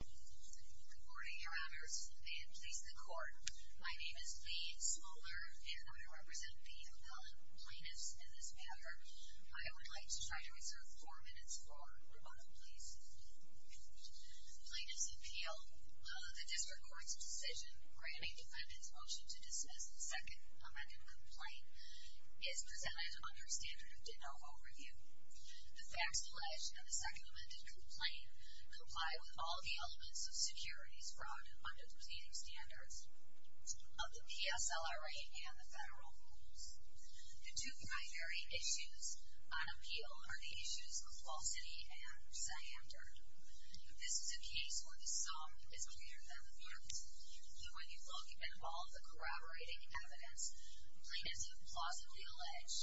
Good morning Your Honors, and please the Court. My name is Lee Smoller, and I represent the appellate plaintiffs in this matter. I would like to try to reserve four minutes for rebuttal, please. Plaintiffs' Appeal The District Court's decision granting defendants' motion to dismiss the second amended complaint is presented under standard of ditto overview. The facts alleged in the second amended complaint comply with all the elements of securities fraud under the preceding standards of the PSLRA and the federal rules. The two primary issues on appeal are the issues of falsity and ciander. This is a case where the sum is greater than the amount, and when you look at all the corroborating evidence, plaintiffs have plausibly alleged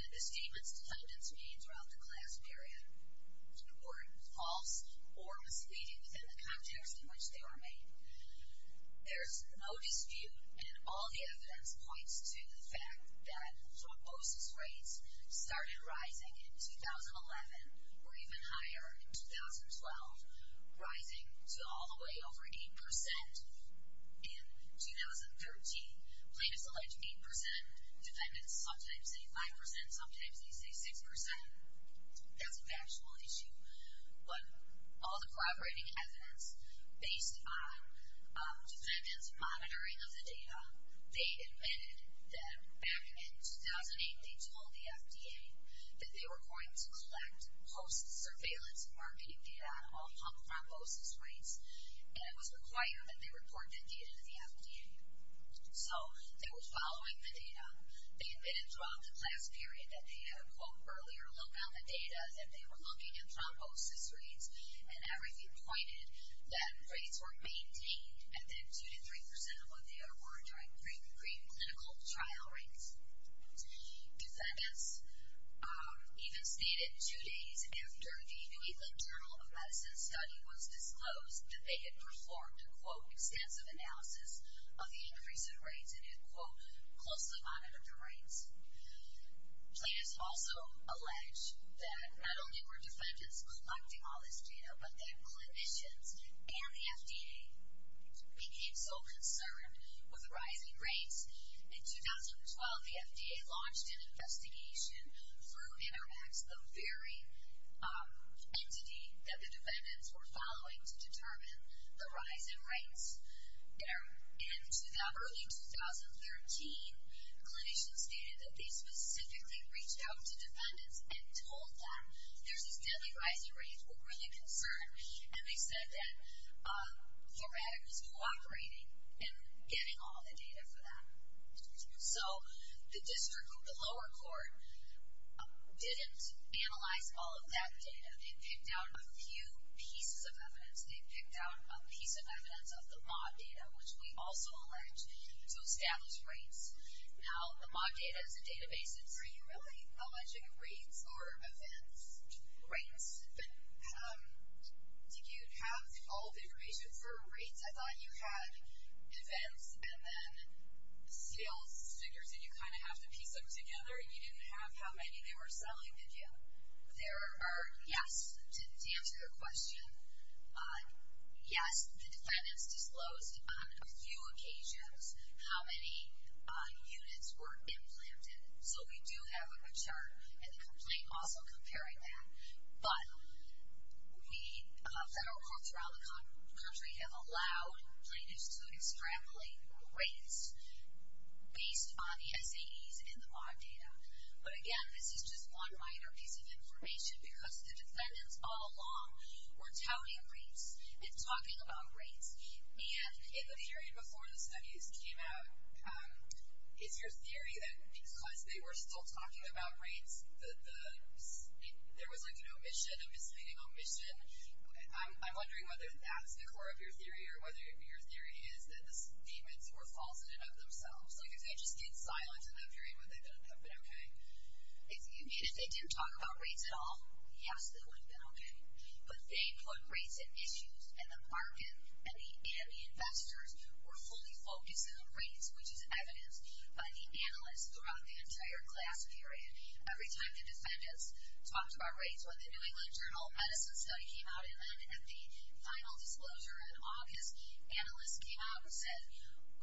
that the statements defendants made throughout the class period were false or misleading within the context in which they were made. There is no dispute, and all the evidence points to the fact that thrombosis rates started rising in 2011 or even higher in 2012, rising to all the way over 8 percent. In 2013, plaintiffs alleged 8 percent. Defendants sometimes say 5 percent, sometimes they say 6 percent. That's a factual issue. When all the corroborating evidence based on defendants' monitoring of the data, they admitted that back in 2008 they told the FDA that they were going to collect post-surveillance marking data on all thrombosis rates, and it was required that they report that data to the FDA. So, they were following the data. They admitted throughout the class period that they had a, quote, earlier look on the data that they were looking at thrombosis rates, and that review pointed that rates were maintained at then 2 to 3 percent of what they were during pre-clinical trial rates. Defendants even stated two days after the New England Journal of Medicine study was disclosed that they had performed a, quote, extensive analysis of the increase in rates and had, quote, closely monitored the rates. Plaintiffs also allege that not only were defendants collecting all this data, but that clinicians and the FDA became so concerned with the rising rates, in 2012 the FDA launched an investigation through Interact, the very entity that the defendants were following to determine the rise in rates. In early 2013, clinicians stated that they specifically reached out to defendants and told them there's this deadly rise in rates, we're really concerned, and they said that, quote, we're cooperating in getting all the data for that. So, the district, the lower court, didn't analyze all of that data. They picked out a few pieces of evidence. They picked out a piece of evidence of the MAUD data, which we also allege to establish rates. Now, the MAUD data is a database, it's not really alleging rates or events, rates, but did you have all the information for rates? I thought you had events and then sales figures, and you kind of have to piece them together, and you didn't have how many they were selling, did you? There are, yes, to answer your question, yes, the defendants disclosed on a few occasions how many units were implanted, so we do have a chart and a complaint also comparing that, but we, federal courts around the country, have allowed clinicians to extrapolate rates based on the SADs and the MAUD data. But again, this is just one minor piece of information, because the defendants all along were touting rates and talking about rates, and in the period before the SADs came out, it's your theory that because they were still talking about rates, there was like an omission, a misleading omission. I'm wondering whether that's the core of your theory, or whether your theory is that the statements were false in and of themselves, like if they just stayed silent in that period, would they have been okay? If you mean if they didn't talk about rates at all, yes, they would have been okay. But they put rates at issues, and the bargain, and the investors were fully focused on rates, which is evidenced by the analysts throughout the entire class period. Every time the defendants talked about rates, when the New England Journal of Medicine study came out, and then at the final disclosure in August, analysts came out and said,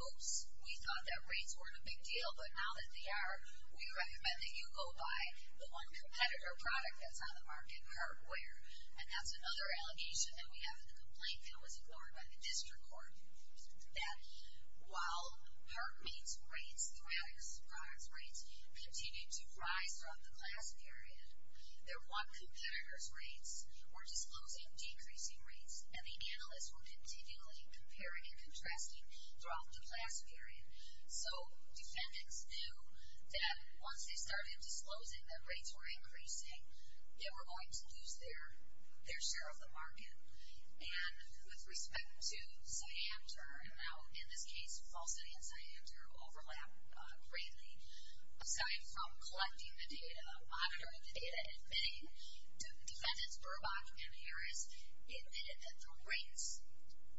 oops, we thought that rates weren't a big deal, but now that they are, we recommend that you go buy the one competitor product that's on the market, heartware. And that's another allegation that we have in the complaint that was floored by the district court, that while HeartMate's rates throughout its class rates continued to rise throughout the class period, their one competitor's rates were disclosing decreasing rates, and the analysts were continually comparing and contrasting throughout the class period. So, defendants knew that once they started disclosing that rates were increasing, they were going to lose their share of the bargain. And with respect to Cyanter, and now in this case, falsity and Cyanter overlap greatly, aside from collecting the data, monitoring the data, and many defendants, Burbach and Harris, admitted that the rates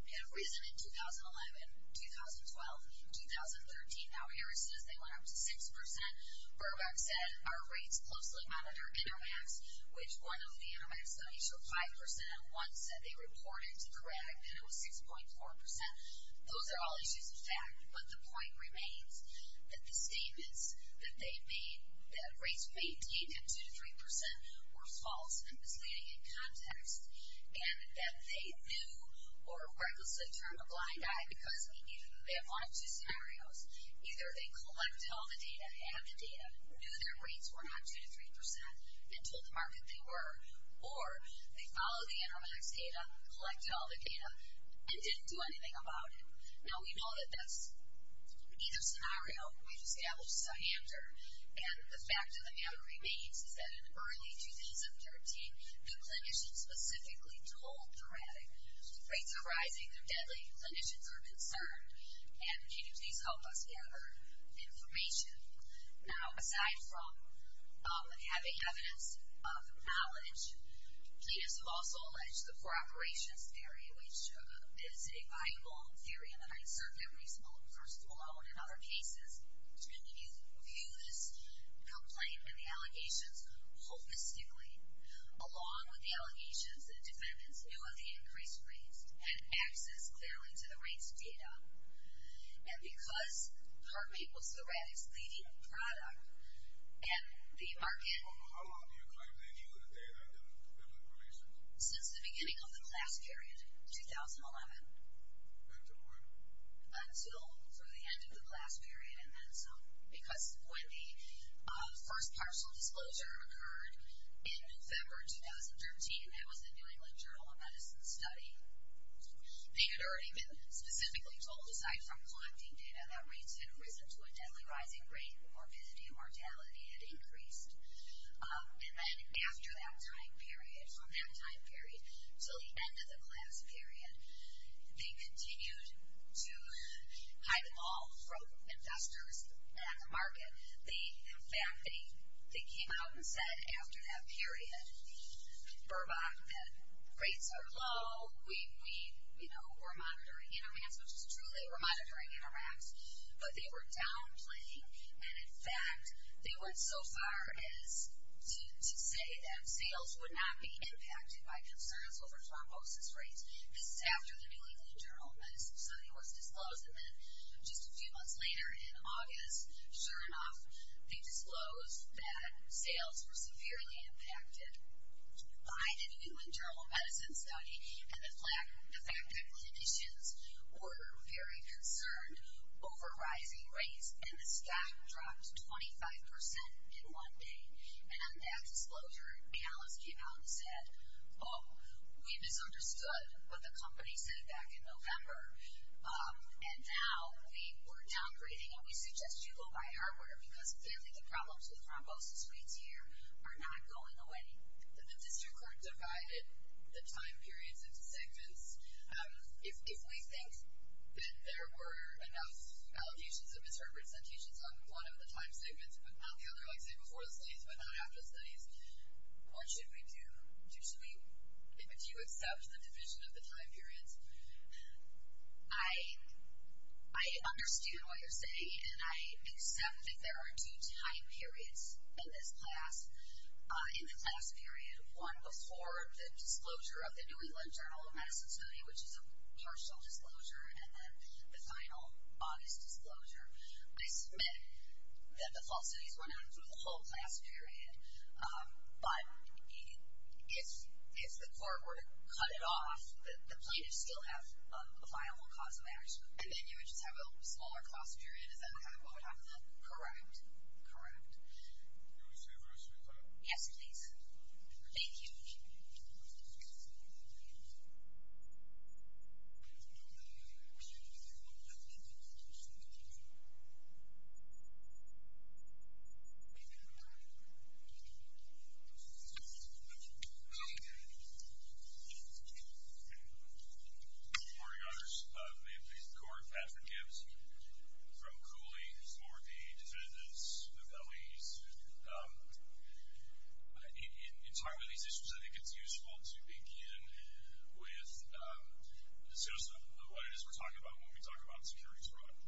had risen in 2011, 2012, and 2013. Now, Harris says they went up to 6%. Burbach said our rates closely monitored Intermax, which one of the Intermax studies showed 5%, and one said they reported to correct, and it was 6.4%. Those are all issues of fact, but the point remains that the statements that they made, that rates remained deep at 2-3% were false and misleading in context, and that they knew, or what was the term, a blind eye, because they knew they had one of two scenarios. Either they collected all the data, had the data, knew their rates were not 2-3%, and told the market they were, or they followed the Intermax data, collected all the data, and didn't do anything about it. Now, we know that that's either scenario, we've established Cyanter, and the fact of the matter remains is that in early 2013, the clinicians specifically told the credit, rates are rising, they're deadly, clinicians are concerned, and can you please help us gather information? Now, aside from having evidence of outage, he has also alleged the for-operations theory, which is a by-law theory, and I assert that reasonable, first of all, and in other cases, can you view this complaint and the allegations holistically, along with the allegations that defendants knew of the increased rates, had access clearly to the rates data, and because HeartMate was the rat's leading product, and the market... How long do you claim they knew that they had been with clinicians? Since the beginning of the class period, 2011. Until when? They had already been specifically told, aside from collecting data, that rates had risen to a deadly rising rate, morbidity and mortality had increased. And then after that time period, on that time period, until the end of the class period, they continued to hide them all from investors at the market. In fact, they came out and said, after that period, Burbach, that rates are low, we're monitoring intervents, which is true, they were monitoring intervents, but they were downplaying, and in fact, they went so far as to say that sales would not be impacted by concerns over thrombosis rates, this is after the New England Journal of Medicine suddenly was disclosed, and then just a few months later, in August, sure enough, they disclosed that sales were severely impacted by the New England Journal of Medicine study, and the fact that clinicians were very concerned over rising rates, and the stock dropped 25% in one day. And on that disclosure, analysts came out and said, oh, we misunderstood what the company said back in November, and now we were downgrading, and we suggest you go by our order, because clearly the problems with thrombosis rates here are not going away. The district court divided the time periods into segments. If we think that there were enough allegations of misrepresentations on one of the time segments, but not the other, like, say, before the studies, but not after the studies, what should we do? Do you accept the division of the time periods? I understood what you're saying, and I accept that there are two time periods in this class. In the class period, one before the disclosure of the New England Journal of Medicine study, which is a partial disclosure, and then the final August disclosure, I submit that the false studies went on for the whole class period. But if the court were to cut it off, the plaintiffs still have a final cause of action, and then you would just have a smaller class period, is that what we're talking about? Correct. Correct. Do you want to say the rest of your time? Yes, please. Thank you. Thank you. Good morning, others. May it please the Court, Patrick Gibbs from Cooley for the defendants' appellees. In talking about these issues, I think it's useful to begin with just what it is we're talking about when we talk about a securities fraud.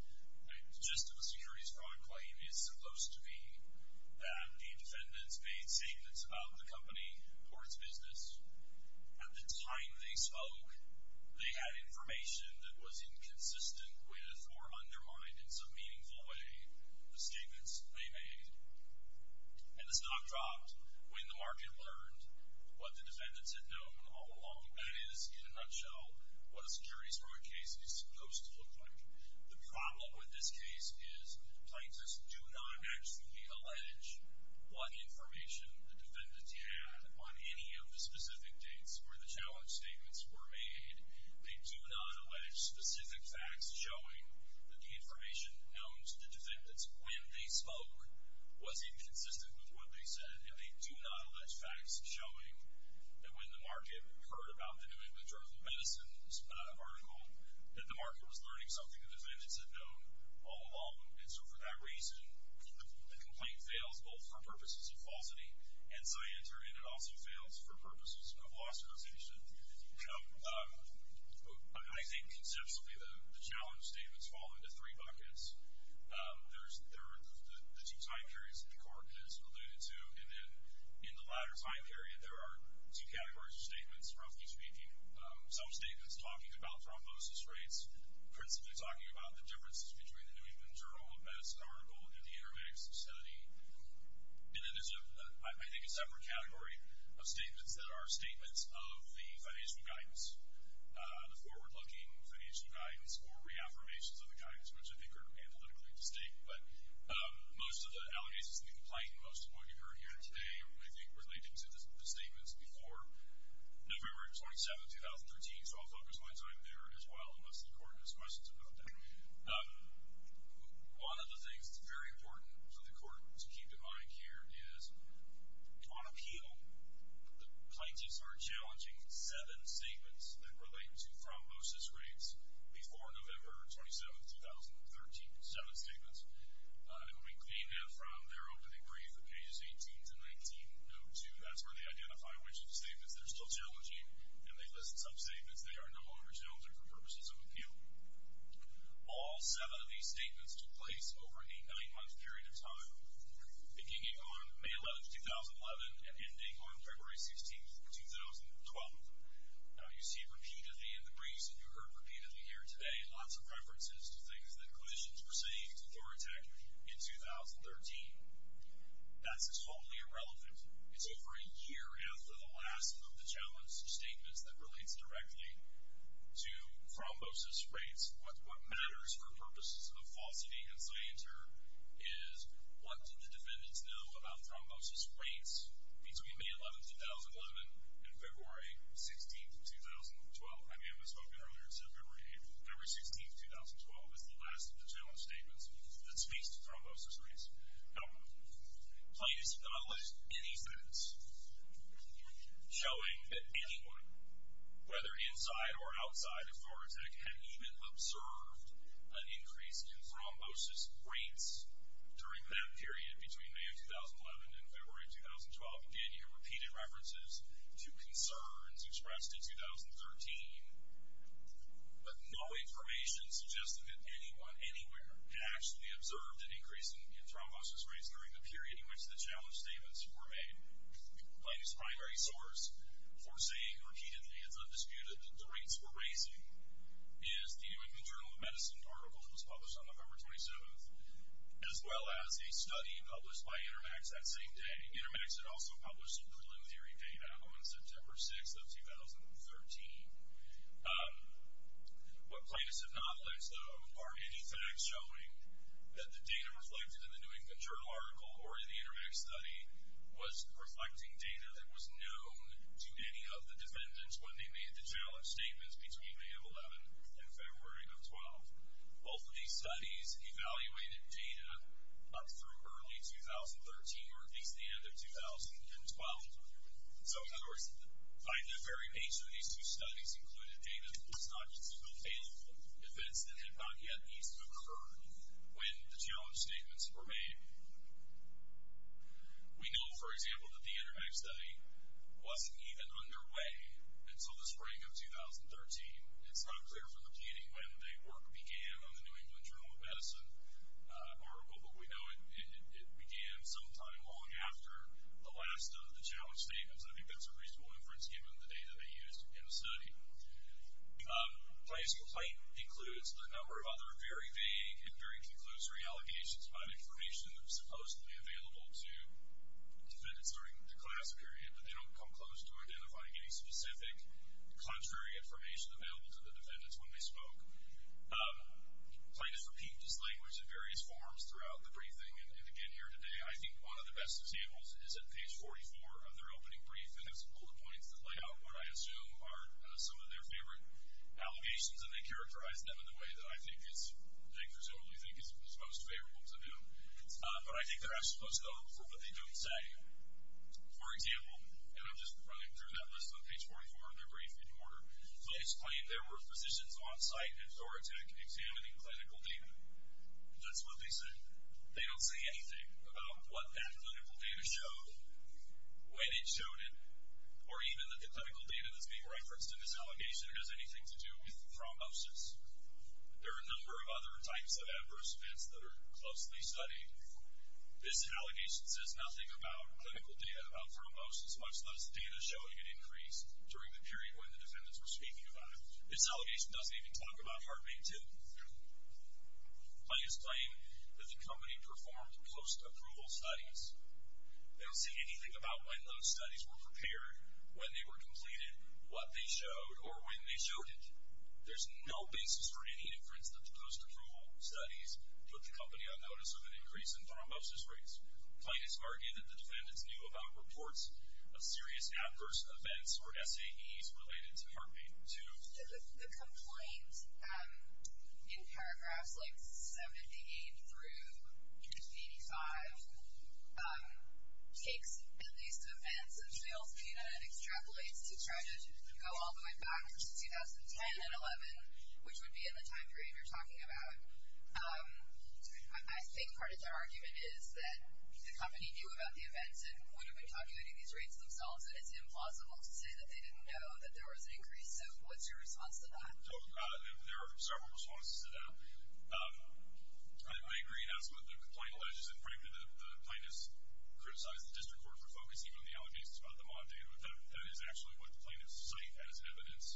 The gist of a securities fraud claim is supposed to be that the defendants made statements about the company or its business. At the time they spoke, they had information that was inconsistent with or undermined in some meaningful way the statements they made. And the stock dropped when the market learned what the defendants had known all along. That is, in a nutshell, what a securities fraud case is supposed to look like. The problem with this case is plaintiffs do not actually allege what information the defendants had on any of the specific dates where the challenge statements were made. They do not allege specific facts showing that the information known to the defendants when they spoke was inconsistent with what they said. And they do not allege facts showing that when the market heard about the New England Journal of Medicine's article, that the market was learning something the defendants had known all along. And so for that reason, the complaint fails both for purposes of falsity and scienter, and it also fails for purposes of loss of information. I think conceptually the challenge statements fall into three buckets. There are the two time periods that the Court has alluded to, and then in the latter time period there are two categories of statements, roughly speaking. Some statements talking about thrombosis rates, principally talking about the differences between the New England Journal of Medicine article and the Aramidic Society. And then there's, I think, a separate category of statements that are statements of the financial guidance, the forward-looking financial guidance or reaffirmations of the guidance, which I think are analytically distinct. But most of the allegations in the complaint, most of what you heard here today, I think were related to the statements before November 27, 2013. So I'll focus mine so I'm there as well unless the Court has questions about that. One of the things that's very important for the Court to keep in mind here is, on appeal, the plaintiffs are challenging seven statements that relate to thrombosis rates before November 27, 2013, seven statements. And when we clean that from their opening brief at pages 18 to 19, note 2, that's where they identify which of the statements they're still challenging, and they list some statements they are no longer challenging for purposes of appeal. All seven of these statements took place over a nine-month period of time, beginning on May 11, 2011 and ending on February 16, 2012. Now, you see repeatedly in the briefs and you heard repeatedly here today lots of references to things that clinicians were saying to Thoratec in 2013. That's totally irrelevant. It's over a year after the last of the challenge statements that relates directly to thrombosis rates. What matters for purposes of falsity and scienter is what do the defendants know about thrombosis rates between May 11, 2011 and February 16, 2012. I mean, it was spoken earlier in September and April. February 16, 2012 is the last of the challenge statements that speaks to thrombosis rates. Now, please do not list any facts showing that anyone, whether inside or outside of Thoratec, had even observed an increase in thrombosis rates during that period between May of 2011 and February of 2012. Again, you hear repeated references to concerns expressed in 2013, but no information suggested that anyone anywhere had actually observed an increase in thrombosis rates during the period in which the challenge statements were made. Plaintiff's primary source for saying repeatedly, it's undisputed, that the rates were raising is the American Journal of Medicine article that was published on November 27, as well as a study published by Intermax that same day. Intermax had also published a preliminary data on September 6 of 2013. What plaintiffs have not listed, though, are any facts showing that the data reflected in the New England Journal article or in the Intermax study was reflecting data that was known to any of the defendants when they made the challenge statements between May of 11 and February of 12. Both of these studies evaluated data up through early 2013, or at least the end of 2012. So, in other words, by the very nature of these two studies included data, it's not just a fatal defense that had not yet eased to occur when the challenge statements were made. We know, for example, that the Intermax study wasn't even underway until the spring of 2013. It's not clear from the beginning when the work began on the New England Journal of Medicine article, but we know it began sometime long after the last of the challenge statements, and I think that's a reasonable inference given the data they used in the study. Plaintiff's complaint includes a number of other very vague and very conclusory allegations about information that was supposedly available to defendants during the class period, but they don't come close to identifying any specific contrary information available to the defendants when they spoke. Plaintiff repeated his language in various forms throughout the briefing, and again here today, I think one of the best examples is at page 44 of their opening brief, and there's some bullet points that lay out what I assume are some of their favorite allegations, and they characterize them in a way that I think is, that I presumably think is most favorable to do. But I think they're not supposed to go for what they don't say. For example, and I'm just running through that list on page 44 of their brief in order, Plaintiff's complaint, there were physicians on-site at Thoratec examining clinical data. That's what they said. They don't say anything about what that clinical data showed, when it showed it, or even that the clinical data that's being referenced in this allegation has anything to do with thrombosis. There are a number of other types of adverse events that are closely studied. This allegation says nothing about clinical data, about thrombosis, much less data showing an increase during the period when the defendants were speaking about it. This allegation doesn't even talk about heartbeat, too. Plaintiff's claim that the company performed post-approval studies. They don't say anything about when those studies were prepared, when they were completed, what they showed, or when they showed it. There's no basis for any inference that the post-approval studies put the company on notice of an increase in thrombosis rates. Plaintiff's argument that the defendants knew about reports of serious adverse events or SAEs related to heartbeat, too. The complaint, in paragraphs like 78 through 85, takes at least events and fails data and extrapolates to try to go all the way back to 2010 and 11, which would be in the time period you're talking about. I think part of their argument is that the company knew about the events and wouldn't have been documenting these rates themselves. It's implausible to say that they didn't know that there was an increase. So what's your response to that? There are several responses to that. I agree, and that's what the complaint alleges. In fact, the plaintiffs criticized the district court for focusing on the allegations about the mod data. That is actually what the plaintiffs cite as evidence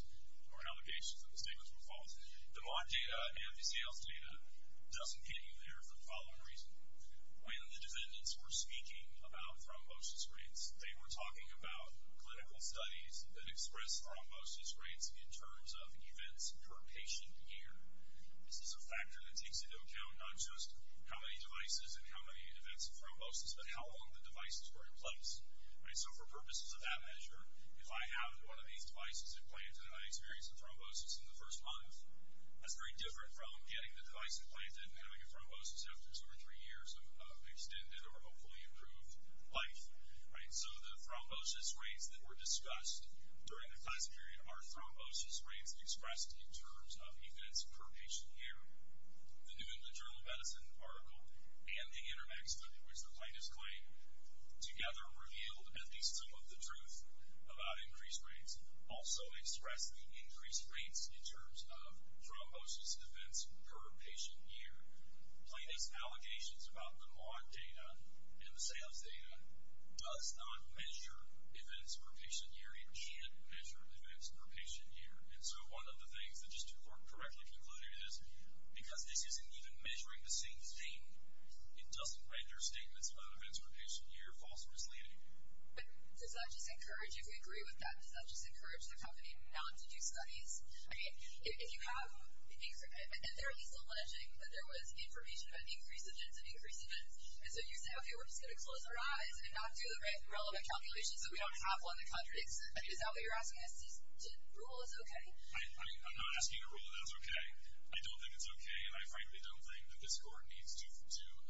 or allegations that the statements were false. The mod data and the sales data doesn't get you there for the following reason. When the defendants were speaking about thrombosis rates, they were talking about clinical studies that express thrombosis rates in terms of events per patient year. This is a factor that takes into account not just how many devices and how many events of thrombosis, but how long the devices were in place. So for purposes of that measure, if I have one of these devices implanted and I experience a thrombosis in the first month, that's very different from getting the device implanted and having a thrombosis after two or three years of extended or hopefully improved life. So the thrombosis rates that were discussed during the class period are thrombosis rates expressed in terms of events per patient year. The New England Journal of Medicine article and the Internex, which the plaintiffs claim together revealed at least some of the truth about increased rates, also expressed the increased rates in terms of thrombosis events per patient year. Plaintiffs' allegations about the mod data and the sales data does not measure events per patient year. It can't measure events per patient year. And so one of the things that just to correctly conclude is because this isn't even measuring the same thing, it doesn't write their statements about events per patient year false or misleading. But does that just encourage, if we agree with that, does that just encourage the company not to do studies? I mean, if you have, and they're alleging that there was information about increased events and increased events, and so you say, okay, we're just going to close our eyes and not do the relevant calculations so we don't have one that contradicts. Is that what you're asking us to do? Rule is okay. I'm not asking a rule that's okay. I don't think it's okay, and I frankly don't think that this court needs to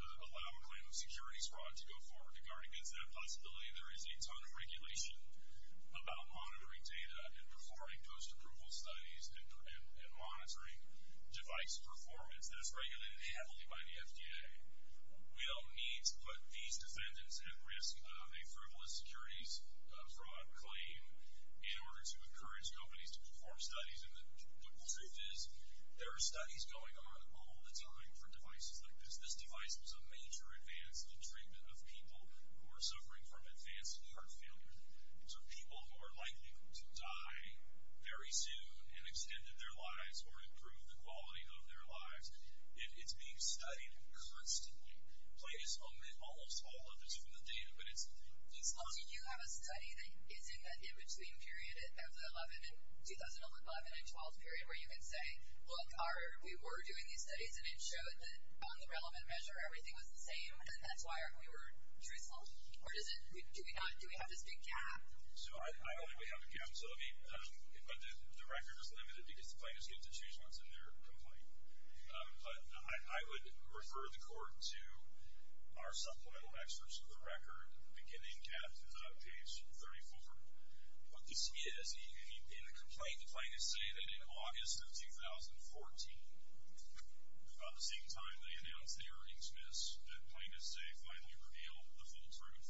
allow a claim of securities fraud to go forward. Regarding that possibility, there is a ton of regulation about monitoring data and performing post-approval studies and monitoring device performance that is regulated heavily by the FDA. We don't need to put these defendants at risk of a frivolous securities fraud claim in order to encourage companies to perform studies. And the truth is, there are studies going on all the time for devices like this. This device was a major advance in the treatment of people who are suffering from advanced heart failure. So people who are likely to die very soon and extended their lives or improve the quality of their lives, it's being studied constantly. Almost all of it is from the data, but it's long. Did you have a study that is in the in-between period of the 2011 and 2012 period where you could say, look, we were doing these studies, and it showed that on the relevant measure everything was the same, and that's why we weren't truthful? Or do we have this big gap? I don't think we have a gap. But the record is limited because the plaintiffs get to choose once in their complaint. But I would refer the court to our supplemental experts for the record, beginning at page 34. What this is, in a complaint, the plaintiffs say that in August of 2014, about the same time they announced the earnings miss, that plaintiffs say finally revealed the full truth.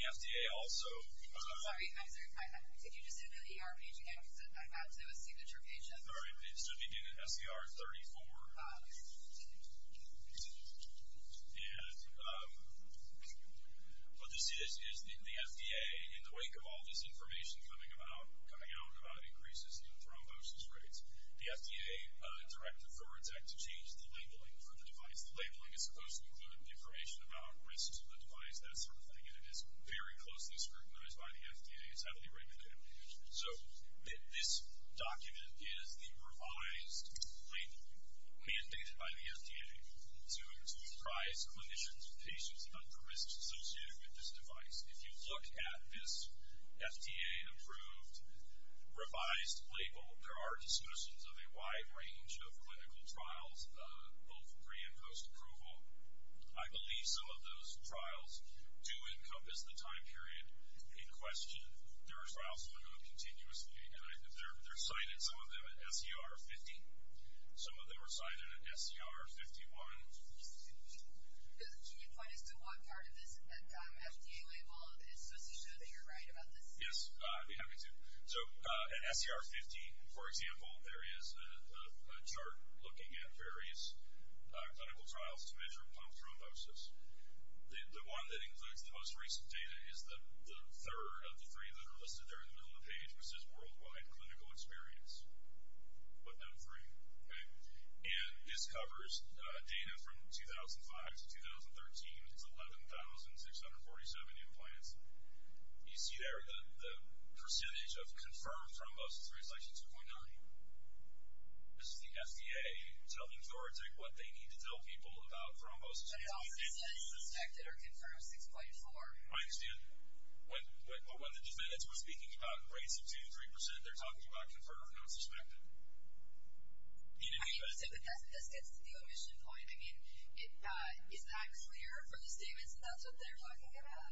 The FDA also. Sorry. I'm sorry. Did you just say the ER page again? Because I got to a signature page. Sorry. It should be in SER 34. Yeah. What this is, is the FDA, in the wake of all this information coming out about increases in thrombosis rates, the FDA directed Thorintec to change the labeling for the device. The labeling is supposed to include information about risks to the device, that sort of thing, and it is very closely scrutinized by the FDA. It's heavily regulated. So this document is the revised label mandated by the FDA to try clinicians and patients about the risks associated with this device. If you look at this FDA-approved revised label, there are discussions of a wide range of clinical trials, both pre- and post-approval. I believe some of those trials do encompass the time period in question. There are trials that are going to continuously, and they're cited, some of them, at SER 50. Some of them are cited at SER 51. Excuse me. Can you point us to what part of this FDA label is supposed to show that you're right about this? Yes, I'd be happy to. So at SER 50, for example, there is a chart looking at various clinical trials to measure pump thrombosis. The one that includes the most recent data is the third of the three that are listed there in the middle of the page, which says worldwide clinical experience, but not three. And this covers data from 2005 to 2013. It's 11,647 implants. You see there the percentage of confirmed thrombosis rates, like 2.9. This is the FDA telling Florida Tech what they need to tell people about thrombosis. But it also says suspected or confirmed 6.4. I understand. But when the defendants were speaking about rates of 2 to 3 percent, they're talking about confirmed or not suspected. I mean, so that gets to the omission point. I mean, it's not clear from the statements that that's what they're talking about.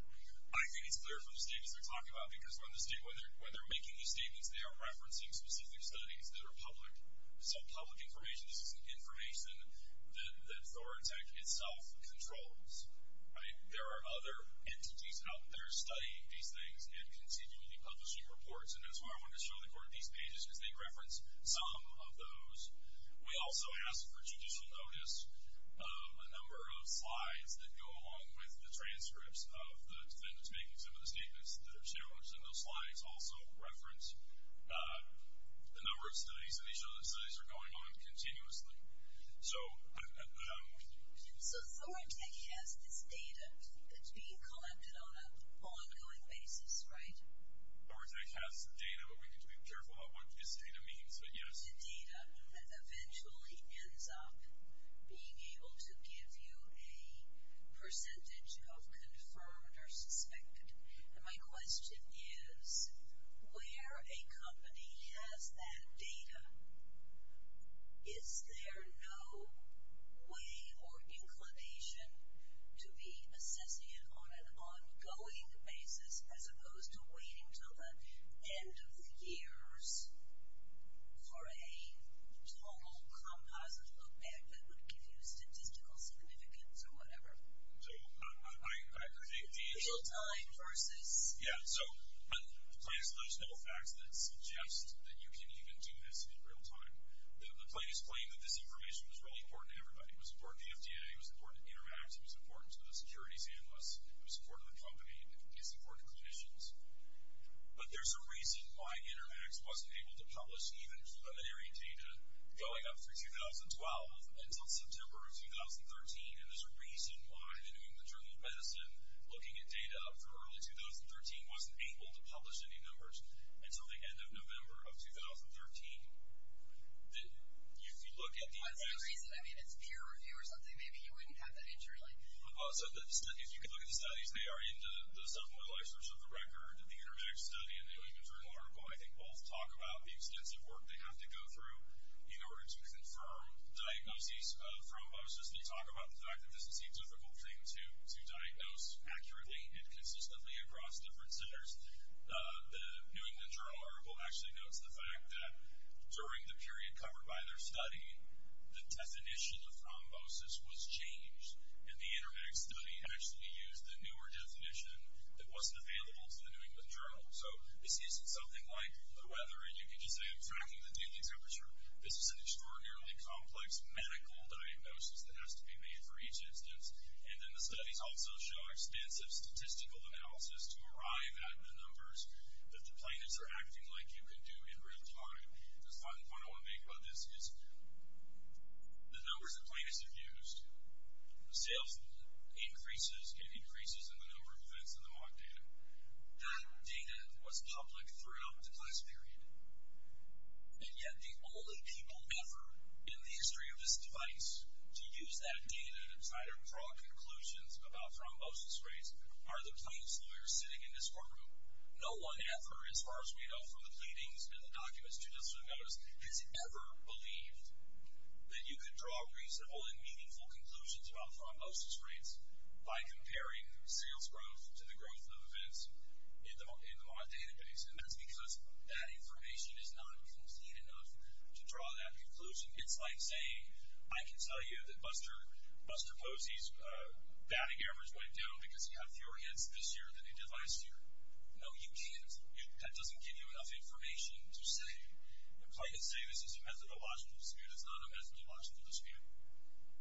I think it's clear from the statements they're talking about because when they're making these statements, they are referencing specific studies that are public. Some public information. This is information that Florida Tech itself controls. There are other entities out there studying these things and continually publishing reports, and that's why I wanted to show the court these pages because they reference some of those. We also ask for judicial notice of a number of slides that go along with the transcripts of the defendants making some of the statements that are shown. And those slides also reference the number of studies, and these are the studies that are going on continuously. So Florida Tech has this data that's being collected on an ongoing basis, right? Florida Tech has the data, but we need to be careful about what this data means. The data eventually ends up being able to give you a percentage of confirmed or suspected. And my question is, where a company has that data, is there no way or inclination to be assessing it on an ongoing basis as opposed to waiting until the end of the years for a total composite look-back that would give you statistical significance or whatever? Real-time versus? Yeah, so the plaintiff's legislative facts that suggest that you can even do this in real-time. The plaintiff's claim that this information was really important to everybody. It was important to the FDA. It was important to Intermax. It was important to the securities analysts. It was important to the company. It was important to clinicians. But there's a reason why Intermax wasn't able to publish even preliminary data going up through 2012 until September of 2013, and there's a reason why the New England Journal of Medicine, looking at data up through early 2013, wasn't able to publish any numbers until the end of November of 2013. If you look at the evidence. That's the reason. I mean, it's peer review or something. Maybe you wouldn't have that injury. Also, if you look at the studies, they are into the submodelizers of the record. The Intermax study and the New England Journal article, I think, both talk about the extensive work they have to go through in order to confirm diagnoses of thrombosis. They talk about the fact that this is a difficult thing to diagnose accurately and consistently across different centers. The New England Journal article actually notes the fact that during the period covered by their study, the definition of thrombosis was changed, and the Intermax study actually used the newer definition that wasn't available to the New England Journal. So this isn't something like the weather, and you can just say I'm tracking the daily temperature. This is an extraordinarily complex medical diagnosis that has to be made for each instance, and then the studies also show extensive statistical analysis to arrive at the numbers that the plaintiffs are acting like you can do in real time. The final point I want to make about this is the numbers the plaintiffs have used, the sales increases and increases in the number of events in the mock data. That data was public throughout the class period, and yet the only people ever in the history of this device to use that data to try to draw conclusions about thrombosis rates are the plaintiff's lawyers sitting in this courtroom. No one ever, as far as we know from the pleadings and the documents, has ever believed that you could draw reasonable and meaningful conclusions about thrombosis rates by comparing sales growth to the growth of events in the mock database, and that's because that information is not complete enough to draw that conclusion. It's like saying I can tell you that Buster Posey's batting average went down because he had fewer hits this year than he did last year. No, you can't. That doesn't give you enough information to say the plaintiff's saying this is a methodological dispute. It's not a methodological dispute.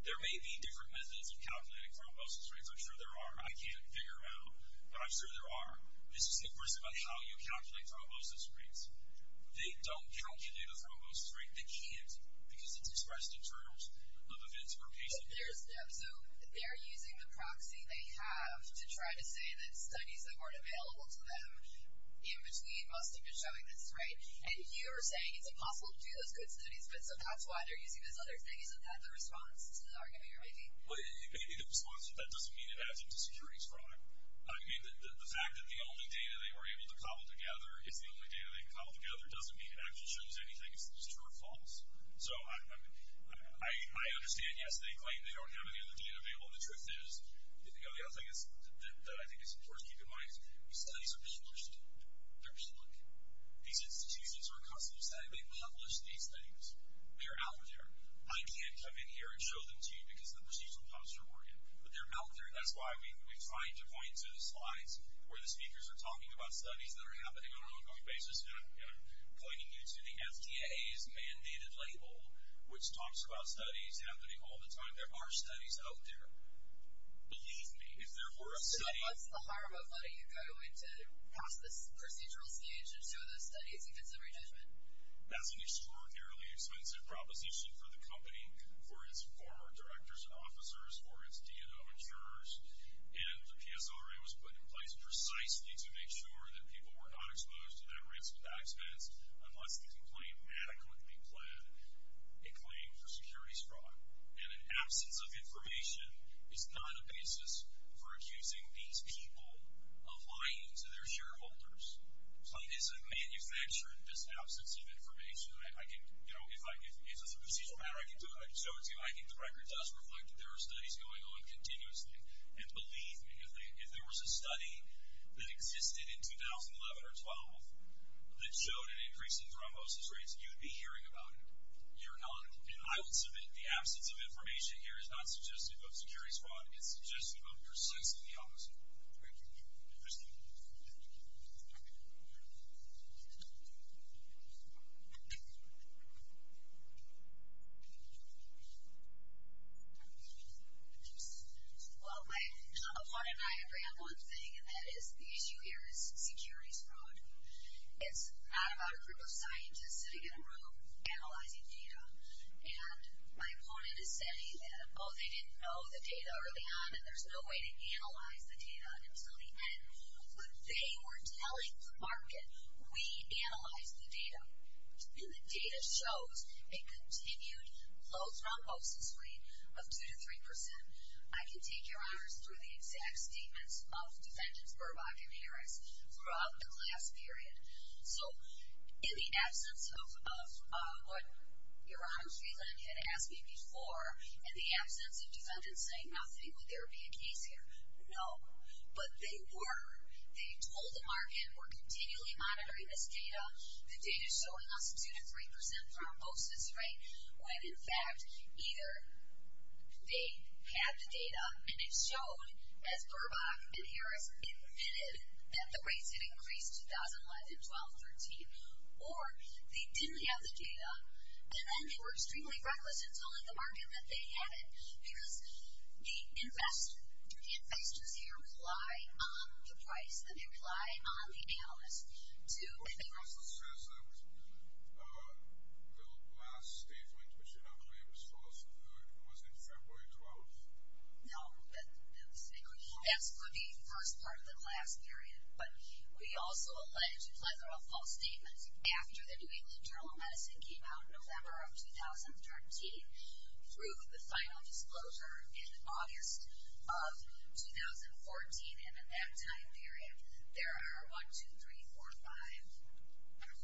There may be different methods of calculating thrombosis rates. I'm sure there are. I can't figure out, but I'm sure there are. This is the question about how you calculate thrombosis rates. They don't calculate a thrombosis rate. They can't because it's expressed in terms of events per patient. So they're using the proxy they have to try to say that studies that weren't available to them in between must have been showing this, right? And you're saying it's impossible to do those good studies, but so that's why they're using this other thing. Isn't that the response to the argument you're making? Well, maybe the response to that doesn't mean it adds into security's product. I mean, the fact that the only data they were able to cobble together is the only data they can cobble together doesn't mean it actually shows anything. It's true or false. So I understand, yes, they claim they don't have any of the data available. The truth is, the other thing that I think is important to keep in mind is these studies are published. They're published. These institutions are accustomed to saying they publish these things. They are out there. I can't come in here and show them to you because the procedures will come from Oregon, but they're out there, and that's why we try to point to the slides where the speakers are talking about studies that are happening on an ongoing basis, and I'm pointing you to the FDA's mandated label, which talks about studies happening all the time. There are studies out there. Believe me, if there were a city... So what's the harm of letting you go and to pass this procedural stage and show those studies in case of re-judgment? That's an extraordinarily expensive proposition for the company, for its former directors and officers, for its DNO insurers, and the PSRA was put in place precisely to make sure that people were not exposed to that ransom of dive spends unless the complaint adequately pled a claim for securities fraud. And an absence of information is not a basis for accusing these people of lying to their shareholders. So it isn't manufactured, this absence of information. If it's a procedural matter, I can show it to you. I think the record does reflect that there are studies going on continuously, and believe me, if there was a study that existed in 2011 or 12 that showed an increase in thrombosis rates, you'd be hearing about it. You're not. And I will submit the absence of information here is not suggestive of securities fraud. It's suggestive of your sex in the office. Thank you. Thank you. Well, my opponent and I agree on one thing, and that is the issue here is securities fraud. It's not about a group of scientists sitting in a room analyzing data. And my opponent is saying that, oh, they didn't know the data early on and there's no way to analyze the data until the end. But they were telling the market, we analyzed the data, and the data shows a continued low thrombosis rate of 2% to 3%. I can take your honors through the exact statements of defendants Burbach and Harris throughout the last period. So in the absence of what Your Honor Shreeland had asked me before, and the absence of defendants saying, would there be a case here? No. But they were. They told the market, we're continually monitoring this data. The data is showing us 2% to 3% thrombosis rate when, in fact, either they had the data and it showed, as Burbach and Harris admitted, that the rates had increased in 2011, 12, 13, or they didn't have the data and then they were extremely frivolous in telling the market that they had it because the investors here rely on the price and they rely on the analyst to The last statement, which I don't believe was false, was in February 12th. No, that's a mistake. That would be the first part of the last period. But we also alleged a plethora of false statements after the New England Journal of Medicine came out in November of 2013 through the final disclosure in August of 2014. And in that time period, there are 1, 2, 3, 4, 5,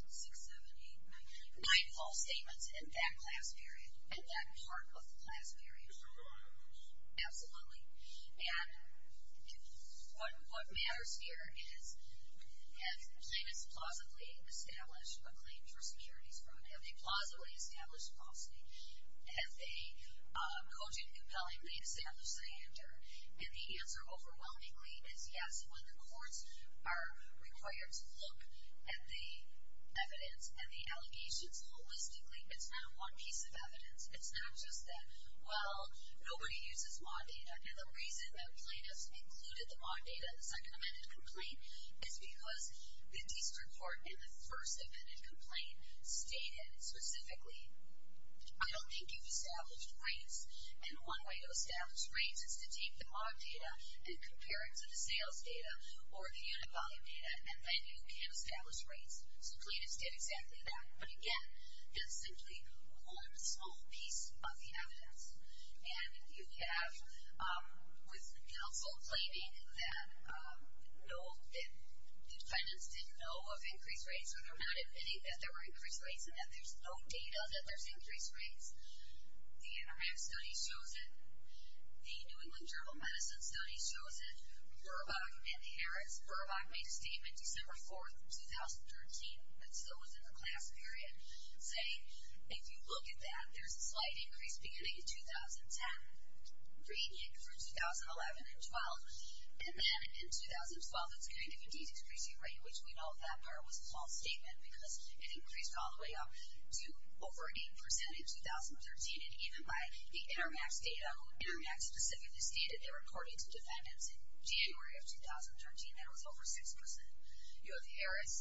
6, 7, 8, 9 false statements in that class period, in that part of the class period. There's a lot of those. Absolutely. And what matters here is, have plaintiffs plausibly established a claim for securities fraud? Have they plausibly established falsity? Have they cogent, compellingly established a handjerk? And the answer, overwhelmingly, is yes. When the courts are required to look at the evidence and the allegations holistically, it's not a one piece of evidence. It's not just that, well, nobody uses MAUD data. And the reason that plaintiffs included the MAUD data in the second amended complaint is because the district court in the first amended complaint stated specifically, I don't think you've established rights. And one way to establish rights is to take the MAUD data and compare it to the sales data or the unit volume data, and then you can establish rights. So plaintiffs did exactly that. But again, it's simply one small piece of the evidence. And you have, with counsel claiming that defendants didn't know of increased rates or they're not admitting that there were increased rates and that there's no data that there's increased rates, the NRMAC study shows it. The New England Journal of Medicine study shows it. Burbach and Harris. Burbach made a statement December 4th, 2013, that still was in the class period, saying, if you look at that, there's a slight increase beginning in 2010, gradient from 2011 and 12. And then in 2012, it's going to be decreasing rate, which we know at that time was a false statement because it increased all the way up to over 8% in 2013. And even by the NRMAC data, NRMAC specifically stated that according to defendants in January of 2013, that was over 6%. You have Harris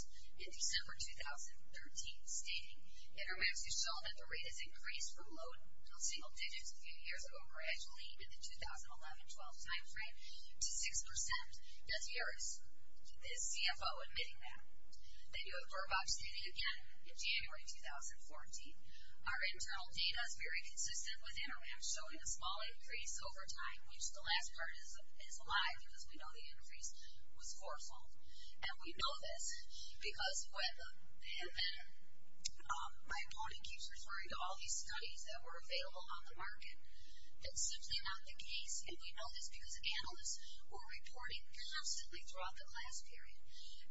in December 2013 stating, NRMAC has shown that the rate has increased from low to single digits a few years ago, gradually, in the 2011-12 time frame, to 6%. Does Harris, is CFO admitting that? Then you have Burbach stating again in January 2014, our internal data is very consistent with NRMAC, showing a small increase over time, which the last part is a lie because we know the increase was fourfold. And we know this because my opponent keeps referring to all these studies that were available on the market. It's simply not the case, and we know this because analysts were reporting constantly throughout the class period.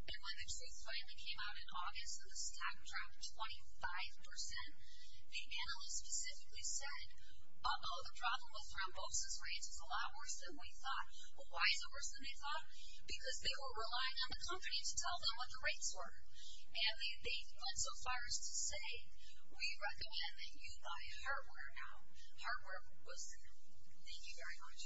And when the truth finally came out in August, and the stock dropped 25%, the analysts specifically said, uh-oh, the problem with thrombosis rates is a lot worse than we thought. Well, why is it worse than they thought? Because they were relying on the company to tell them what the rates were. And they went so far as to say, we recommend that you buy hardware now. Hardware will soon. Thank you very much.